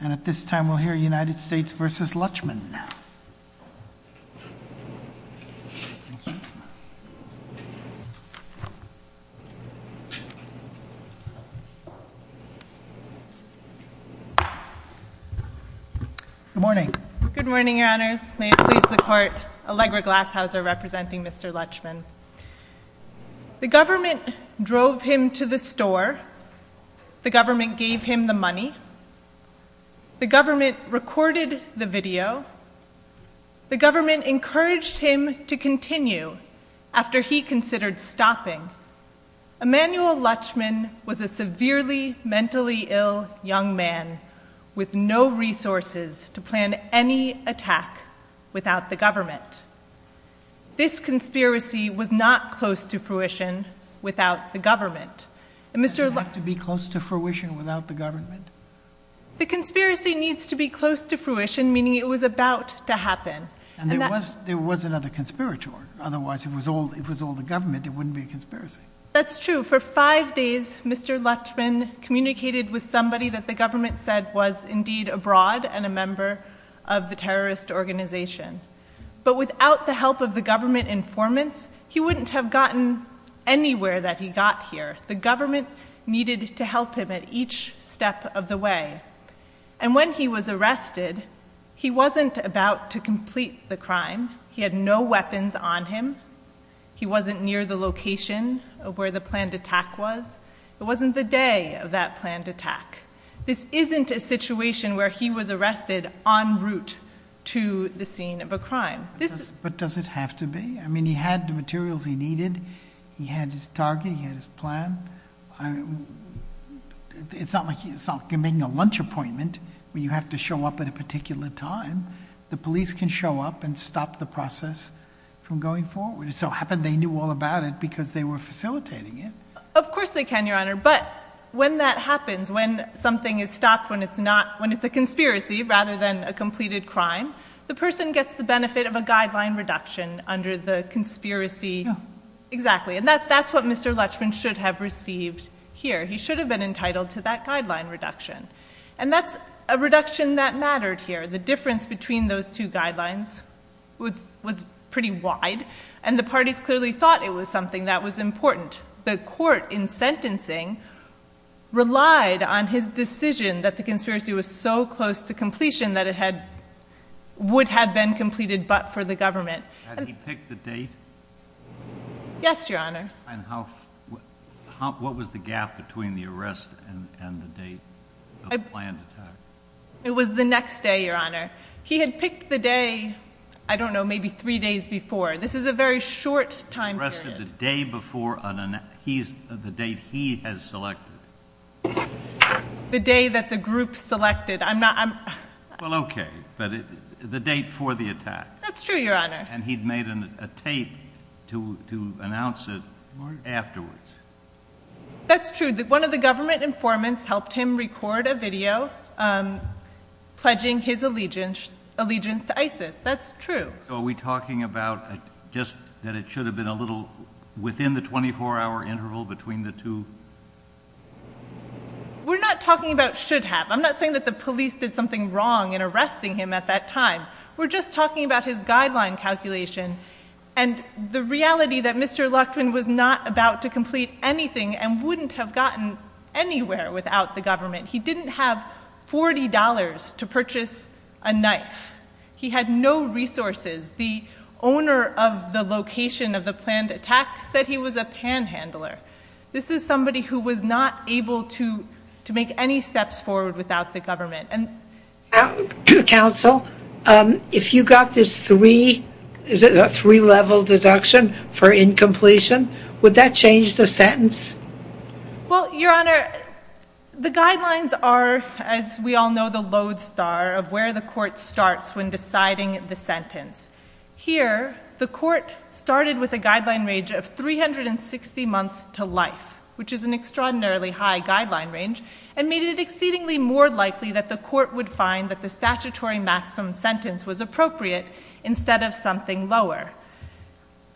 And at this time we'll hear United States v. Luchman. Good morning. Good morning, Your Honours. May it please the Court, Allegra Glasshouser representing Mr. Luchman. The government drove him to the store, the government gave him the money, the government recorded the video, the government encouraged him to continue after he considered stopping. Emmanuel Luchman was a severely mentally ill young man with no resources to plan any attack without the government. This conspiracy was not close to fruition without the government. Does it have to be close to fruition without the government? The conspiracy needs to be close to fruition, meaning it was about to happen. And there was another conspirator. Otherwise, if it was all the government, it wouldn't be a conspiracy. That's true. For five days, Mr. Luchman communicated with somebody that the government said was indeed abroad and a member of the terrorist organization. But without the help of the government informants, he wouldn't have gotten anywhere that he got here. The government needed to help him at each step of the way. And when he was arrested, he wasn't about to complete the crime. He had no weapons on him. He wasn't near the location of where the planned attack was. It wasn't the day of that planned attack. This isn't a situation where he was arrested en route to the scene of a crime. But does it have to be? I mean, he had the materials he needed. He had his target. He had his plan. It's not like you're making a lunch appointment where you have to show up at a particular time. The police can show up and stop the process from going forward. It so happened they knew all about it because they were facilitating it. Of course they can, Your Honor. But when that happens, when something is stopped, when it's a conspiracy rather than a completed crime, the person gets the benefit of a guideline reduction under the conspiracy. Exactly, and that's what Mr. Lutchman should have received here. He should have been entitled to that guideline reduction. And that's a reduction that mattered here. The difference between those two guidelines was pretty wide, and the parties clearly thought it was something that was important. The court in sentencing relied on his decision that the conspiracy was so close to completion that it would have been completed but for the government. Had he picked the date? Yes, Your Honor. And what was the gap between the arrest and the date of the planned attack? It was the next day, Your Honor. He had picked the day, I don't know, maybe three days before. This is a very short time period. He arrested the day before the date he has selected. The day that the group selected. Well, okay, but the date for the attack. That's true, Your Honor. And he'd made a tape to announce it afterwards. That's true. One of the government informants helped him record a video pledging his allegiance to ISIS. That's true. So are we talking about just that it should have been a little within the 24-hour interval between the two? We're not talking about should have. I'm not saying that the police did something wrong in arresting him at that time. We're just talking about his guideline calculation and the reality that Mr. Luchtman was not about to complete anything and wouldn't have gotten anywhere without the government. He didn't have $40 to purchase a knife. He had no resources. The owner of the location of the planned attack said he was a panhandler. This is somebody who was not able to make any steps forward without the government. Counsel, if you got this three-level deduction for incompletion, would that change the sentence? Well, Your Honor, the guidelines are, as we all know, the lodestar of where the court starts when deciding the sentence. Here, the court started with a guideline range of 360 months to life, which is an extraordinarily high guideline range, and made it exceedingly more likely that the court would find that the statutory maximum sentence was appropriate instead of something lower.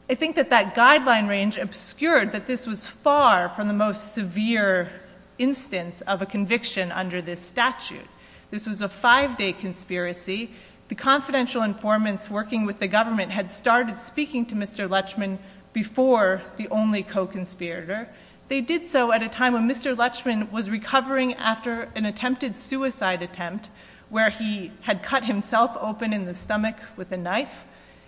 I think that that guideline range obscured that this was far from the most severe instance of a conviction under this statute. This was a five-day conspiracy. The confidential informants working with the government had started speaking to Mr. Luchtman before the only co-conspirator. They did so at a time when Mr. Luchtman was recovering after an attempted suicide attempt where he had cut himself open in the stomach with a knife.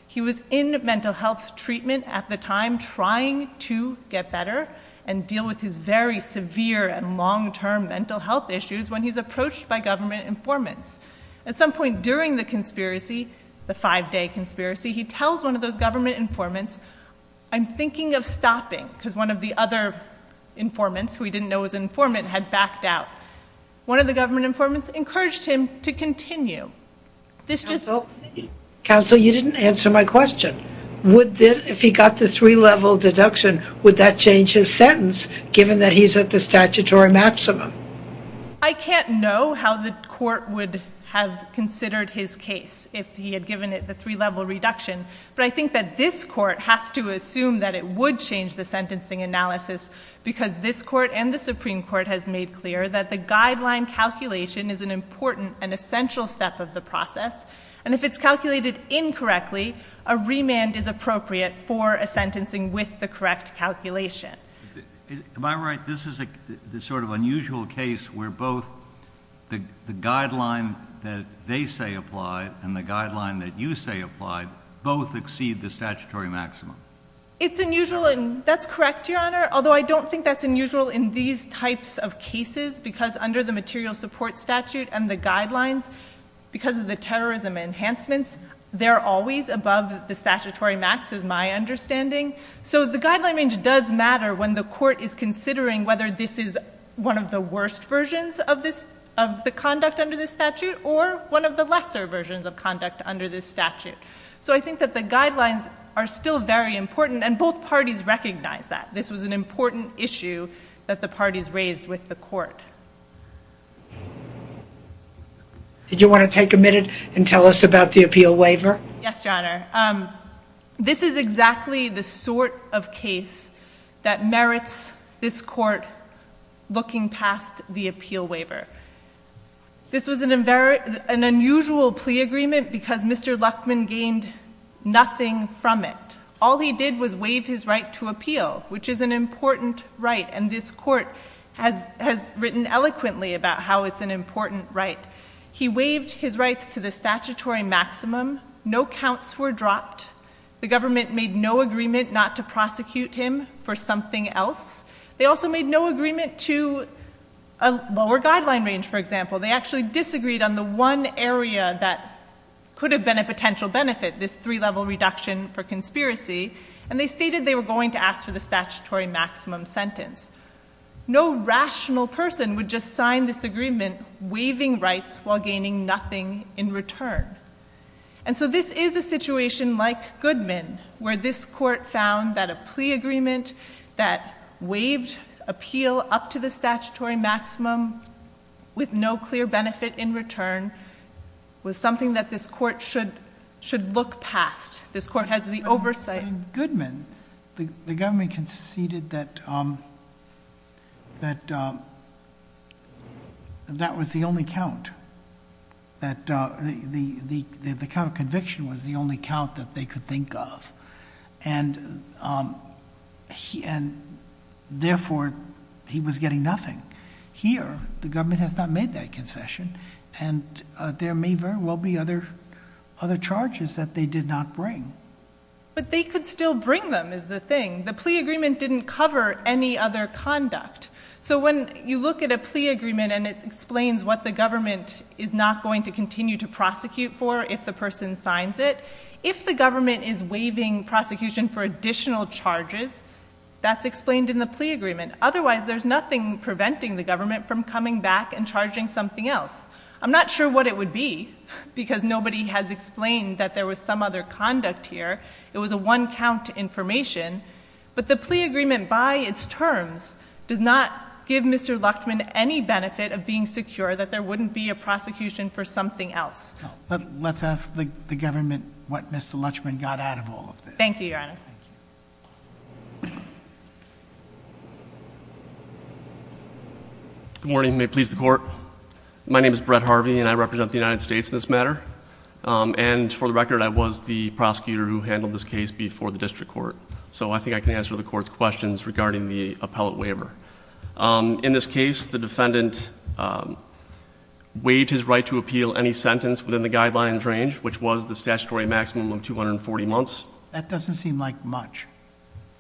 He was in mental health treatment at the time trying to get better and deal with his very severe and long-term mental health issues when he's approached by government informants. At some point during the conspiracy, the five-day conspiracy, he tells one of those government informants, I'm thinking of stopping because one of the other informants, who he didn't know was an informant, had backed out. One of the government informants encouraged him to continue. Counsel, you didn't answer my question. If he got the three-level deduction, would that change his sentence given that he's at the statutory maximum? I can't know how the court would have considered his case if he had given it the three-level reduction, but I think that this court has to assume that it would change the sentencing analysis because this court and the Supreme Court has made clear that the guideline calculation is an important and essential step of the process, and if it's calculated incorrectly, a remand is appropriate for a sentencing with the correct calculation. Am I right? This is a sort of unusual case where both the guideline that they say applied and the guideline that you say applied It's unusual, and that's correct, Your Honor, although I don't think that's unusual in these types of cases because under the material support statute and the guidelines, because of the terrorism enhancements, they're always above the statutory max, is my understanding. So the guideline range does matter when the court is considering whether this is one of the worst versions of the conduct under this statute or one of the lesser versions of conduct under this statute. So I think that the guidelines are still very important, and both parties recognize that. This was an important issue that the parties raised with the court. Did you want to take a minute and tell us about the appeal waiver? Yes, Your Honor. This is exactly the sort of case that merits this court looking past the appeal waiver. This was an unusual plea agreement because Mr. Luckman gained nothing from it. All he did was waive his right to appeal, which is an important right, and this court has written eloquently about how it's an important right. He waived his rights to the statutory maximum. No counts were dropped. The government made no agreement not to prosecute him for something else. They also made no agreement to a lower guideline range, for example. They actually disagreed on the one area that could have been a potential benefit, this three-level reduction for conspiracy, and they stated they were going to ask for the statutory maximum sentence. No rational person would just sign this agreement waiving rights while gaining nothing in return. And so this is a situation like Goodman, where this court found that a plea agreement that waived appeal up to the statutory maximum with no clear benefit in return was something that this court should look past. This court has the oversight... In Goodman, the government conceded that that was the only count, that the count of conviction was the only count that they could think of, and therefore, he was getting nothing. Here, the government has not made that concession, and there may very well be other charges that they did not bring. But they could still bring them, is the thing. The plea agreement didn't cover any other conduct. So when you look at a plea agreement and it explains what the government is not going to continue to prosecute for if the person signs it, if the government is waiving prosecution for additional charges, that's explained in the plea agreement. Otherwise, there's nothing preventing the government from coming back and charging something else. I'm not sure what it would be, because nobody has explained that there was some other conduct here. It was a one-count information. But the plea agreement, by its terms, does not give Mr. Luchman any benefit of being secure that there wouldn't be a prosecution for something else. Let's ask the government what Mr. Luchman got out of all of this. Thank you, Your Honor. Good morning, and may it please the Court. My name is Brett Harvey, and I represent the United States in this matter. And for the record, I was the prosecutor who handled this case before the district court. So I think I can answer the Court's questions regarding the appellate waiver. In this case, the defendant waived his right to appeal any sentence within the guidelines range, which was the statutory maximum of 240 months. That doesn't seem like much.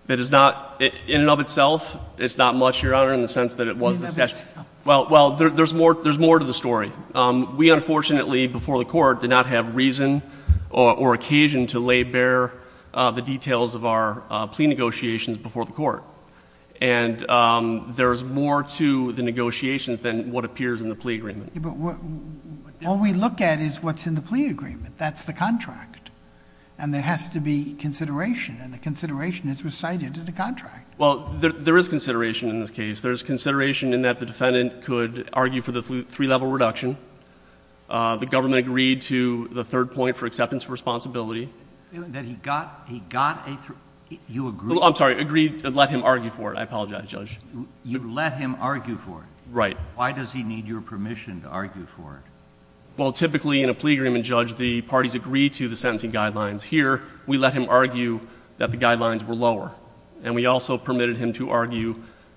It is not. In and of itself, it's not much, Your Honor, in the sense that it was the statute. Well, there's more to the story. We, unfortunately, before the Court, did not have reason or occasion to lay bare the details of our plea negotiations before the Court. And there's more to the negotiations than what appears in the plea agreement. All we look at is what's in the plea agreement. That's the contract. And there has to be consideration, and the consideration is recited in the contract. Well, there is consideration in this case. There's consideration in that the defendant could argue for the three-level reduction. The government agreed to the third point for acceptance of responsibility. That he got a three... you agreed... I'm sorry, agreed, let him argue for it. I apologize, Judge. You let him argue for it? Right. Why does he need your permission to argue for it? Well, typically, in a plea agreement, Judge, the parties agree to the sentencing guidelines. Here, we let him argue that the guidelines were lower. And we also permitted him to argue...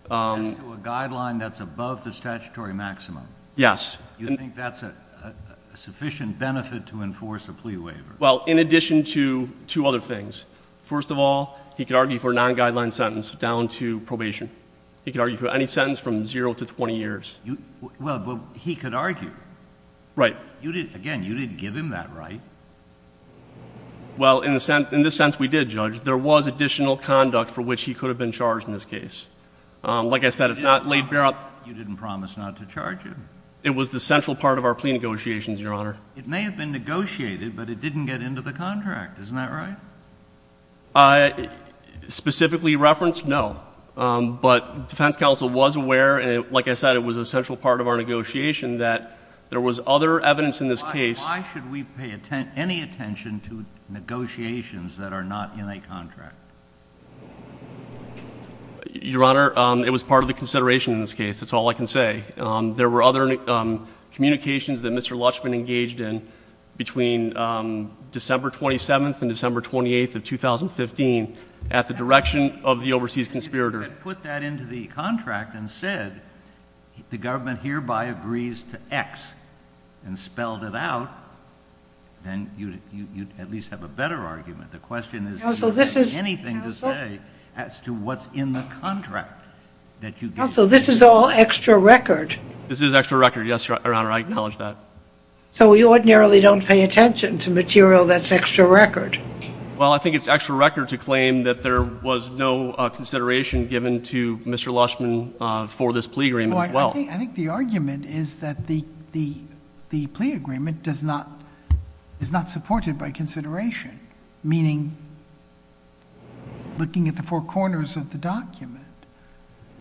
As to a guideline that's above the statutory maximum? Yes. You think that's a sufficient benefit to enforce a plea waiver? Well, in addition to two other things. First of all, he could argue for a non-guideline sentence down to probation. He could argue for any sentence from zero to 20 years. Well, he could argue. Right. Again, you didn't give him that right. Well, in this sense, we did, Judge. There was additional conduct for which he could have been charged in this case. Like I said, it's not laid bare... You didn't promise not to charge him. It was the central part of our plea negotiations, Your Honor. It may have been negotiated, but it didn't get into the contract. Isn't that right? Specifically referenced, no. But the defense counsel was aware, and like I said, it was a central part of our negotiation, that there was other evidence in this case... Your Honor, it was part of the consideration in this case. That's all I can say. There were other communications that Mr. Lutschman engaged in between December 27th and December 28th of 2015 at the direction of the overseas conspirator. If you had put that into the contract and said, the government hereby agrees to X and spelled it out, then you'd at least have a better argument. The question is, do you have anything to say as to what's in the contract? Counsel, this is all extra record. This is extra record, yes, Your Honor. I acknowledge that. So we ordinarily don't pay attention to material that's extra record. Well, I think it's extra record to claim that there was no consideration given to Mr. Lutschman for this plea agreement as well. I think the argument is that the plea agreement is not supported by consideration, meaning looking at the four corners of the document.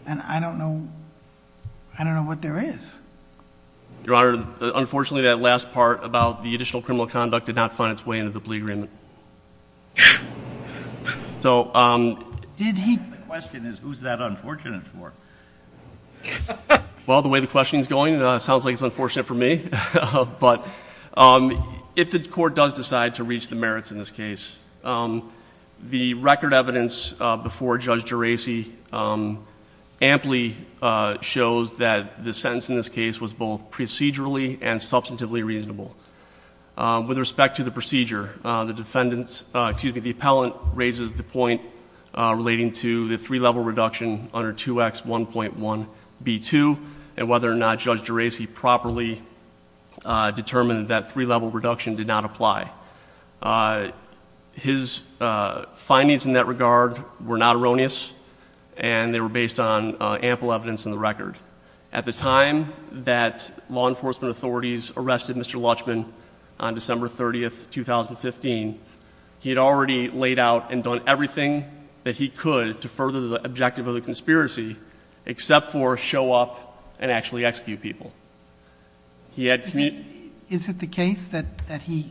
And I don't know... I don't know what there is. Your Honor, unfortunately, that last part about the additional criminal conduct did not find its way into the plea agreement. So, um... The question is, who's that unfortunate for? Well, the way the question is going, it sounds like it's unfortunate for me. But if the court does decide to reach the merits in this case, the record evidence before Judge Geraci amply shows that the sentence in this case was both procedurally and substantively reasonable. With respect to the procedure, the defendant's... Excuse me, the appellant raises the point relating to the three-level reduction under 2X1.1b2 and whether or not Judge Geraci properly determined that that three-level reduction did not apply. His findings in that regard were not erroneous and they were based on ample evidence in the record. At the time that law enforcement authorities arrested Mr. Lutschman on December 30, 2015, he had already laid out and done everything that he could to further the objective of the conspiracy except for show up and actually execute people. He had... Is it the case that he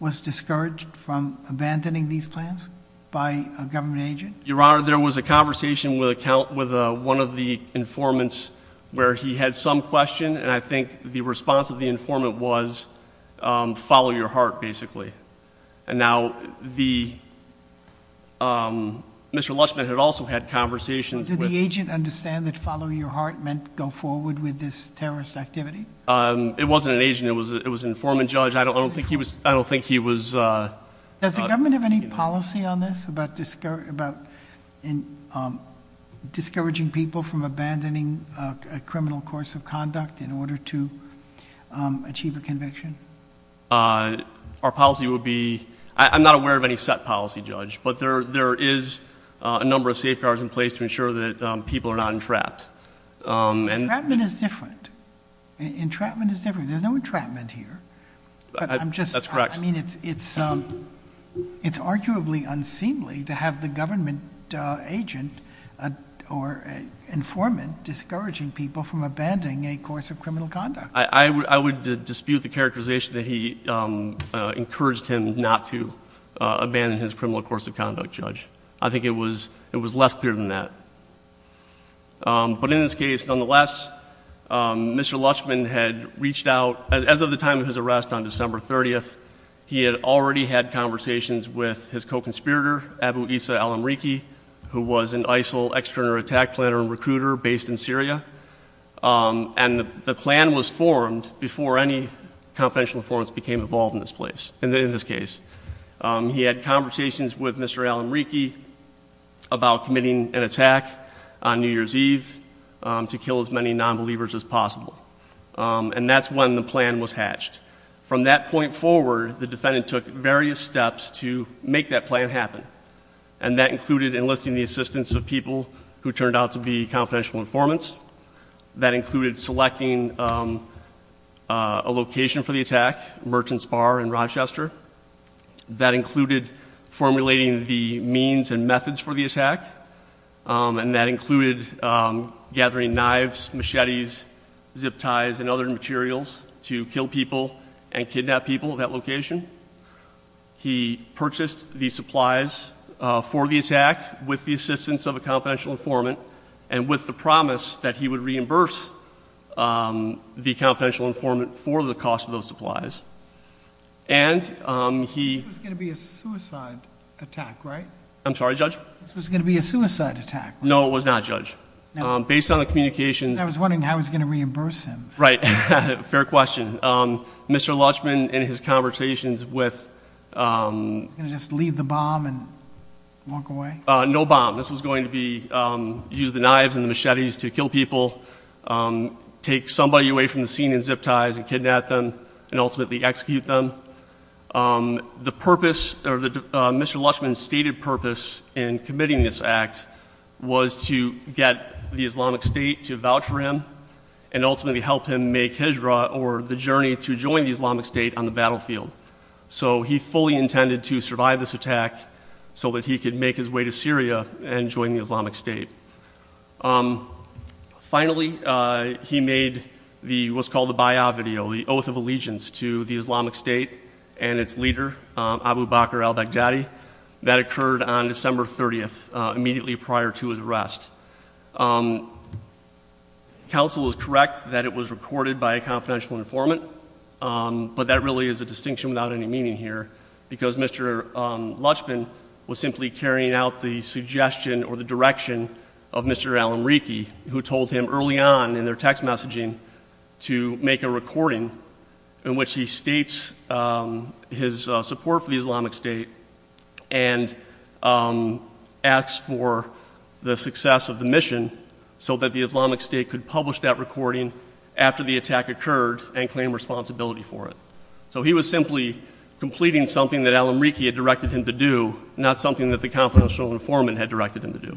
was discouraged from abandoning these plans by a government agent? Your Honor, there was a conversation with one of the informants where he had some question, and I think the response of the informant was follow your heart, basically. And now the... Mr. Lutschman had also had conversations with... Did the agent understand that follow your heart meant go forward with this terrorist activity? It wasn't an agent. It was an informant, Judge. I don't think he was... Does the government have any policy on this about discouraging people from abandoning a criminal course of conduct in order to achieve a conviction? Our policy would be... I'm not aware of any set policy, Judge, but there is a number of safeguards in place to ensure that people are not entrapped. Entrapment is different. Entrapment is different. There's no entrapment here. That's correct. I mean, it's arguably unseemly to have the government agent or informant discouraging people from abandoning a course of criminal conduct. I would dispute the characterization that he encouraged him not to abandon his criminal course of conduct, Judge. I think it was less clear than that. But in this case, nonetheless, Mr. Lutschman had reached out... As of the time of his arrest on December 30th, he had already had conversations with his co-conspirator, Abu Issa al-Amriqi, who was an ISIL external attack planner and recruiter based in Syria. And the plan was formed before any confidential informants became involved in this place, in this case. He had conversations with Mr. al-Amriqi about committing an attack on New Year's Eve to kill as many nonbelievers as possible. And that's when the plan was hatched. From that point forward, the defendant took various steps to make that plan happen. And that included enlisting the assistance of people who turned out to be confidential informants. That included selecting a location for the attack, Merchant's Bar in Rochester. That included formulating the means and methods for the attack. And that included gathering knives, machetes, zip ties, and other materials to kill people and kidnap people at that location. He purchased the supplies for the attack with the assistance of a confidential informant, and with the promise that he would reimburse the confidential informant for the cost of those supplies. And he... This was going to be a suicide attack, right? I'm sorry, Judge? This was going to be a suicide attack. No, it was not, Judge. Based on the communications... I was wondering how he was going to reimburse him. Right. Fair question. Mr. Lutschman, in his conversations with... Was he going to just leave the bomb and walk away? No bomb. This was going to be... use the knives and the machetes to kill people, take somebody away from the scene in zip ties and kidnap them and ultimately execute them. The purpose... Mr. Lutschman's stated purpose in committing this act was to get the Islamic State to vouch for him and ultimately help him make Hijra, or the journey to join the Islamic State, on the battlefield. So he fully intended to survive this attack so that he could make his way to Syria and join the Islamic State. Finally, he made what's called the bay'ah video, the oath of allegiance to the Islamic State and its leader, Abu Bakr al-Baghdadi. That occurred on December 30th, immediately prior to his arrest. Counsel is correct that it was recorded by a confidential informant, but that really is a distinction without any meaning here because Mr. Lutschman was simply carrying out the suggestion or the direction of Mr. al-Amriki, who told him early on in their text messaging to make a recording in which he states his support for the Islamic State and asks for the success of the mission so that the Islamic State could publish that recording after the attack occurred and claim responsibility for it. So he was simply completing something that al-Amriki had directed him to do, not something that the confidential informant had directed him to do.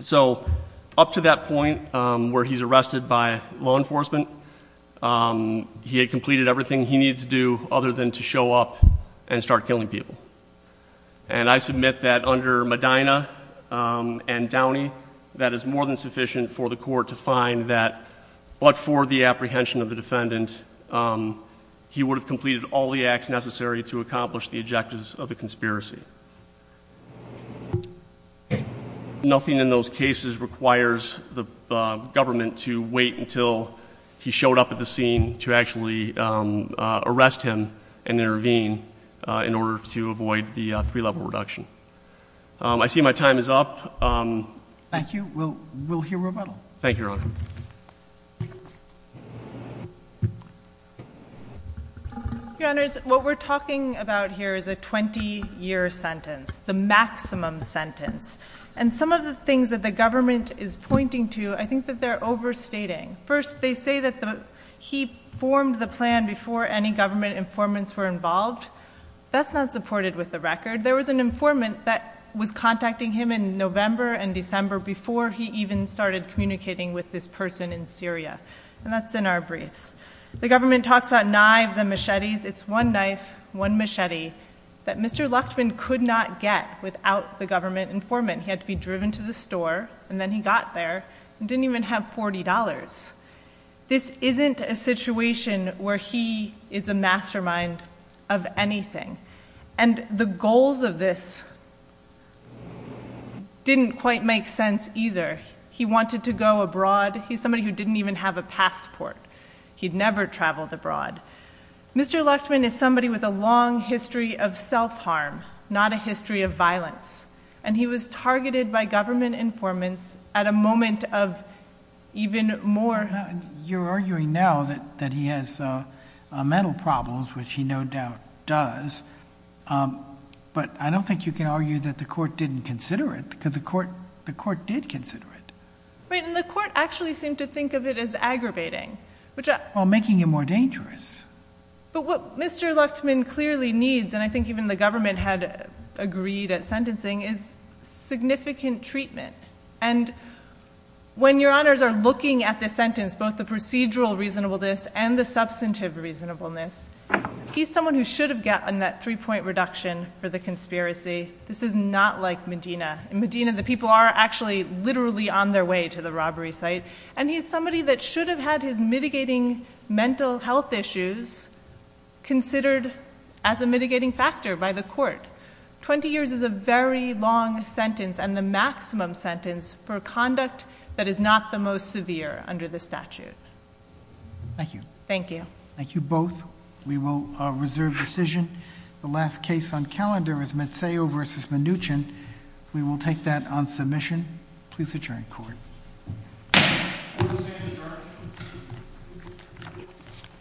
So up to that point where he's arrested by law enforcement, he had completed everything he needed to do other than to show up and start killing people. And I submit that under Medina and Downey, that is more than sufficient for the court to find that but for the apprehension of the defendant, he would have completed all the acts necessary to accomplish the objectives of the conspiracy. Nothing in those cases requires the government to wait until he showed up at the scene to actually arrest him and intervene in order to avoid the three-level reduction. I see my time is up. Thank you, Your Honor. Your Honors, what we're talking about here is a 20-year sentence, the maximum sentence. And some of the things that the government is pointing to, I think that they're overstating. First, they say that he formed the plan before any government informants were involved. That's not supported with the record. There was an informant that was contacting him in November and December before he even started communicating with this person in Syria. And that's in our briefs. The government talks about knives and machetes. It's one knife, one machete, that Mr. Luchtman could not get without the government informant. He had to be driven to the store, and then he got there and didn't even have $40. This isn't a situation where he is a mastermind of anything. And the goals of this didn't quite make sense either. He wanted to go abroad. He's somebody who didn't even have a passport. He'd never traveled abroad. Mr. Luchtman is somebody with a long history of self-harm, not a history of violence. And he was targeted by government informants at a moment of even more... You're arguing now that he has mental problems, which he no doubt does. But I don't think you can argue that the court didn't consider it, because the court did consider it. Right, and the court actually seemed to think of it as aggravating, which... Well, making it more dangerous. But what Mr. Luchtman clearly needs, and I think even the government had agreed at sentencing, is significant treatment. And when your honors are looking at this sentence, both the procedural reasonableness and the substantive reasonableness, he's someone who should have gotten that 3-point reduction for the conspiracy. This is not like Medina. In Medina, the people are actually literally on their way to the robbery site. And he's somebody that should have had his mitigating mental health issues considered as a mitigating factor by the court. 20 years is a very long sentence, and the maximum sentence for conduct that is not the most severe under the statute. Thank you. Thank you. Thank you both. We will reserve decision. The last case on calendar is Mazzeo v. Mnuchin. We will take that on submission. Please adjourn court.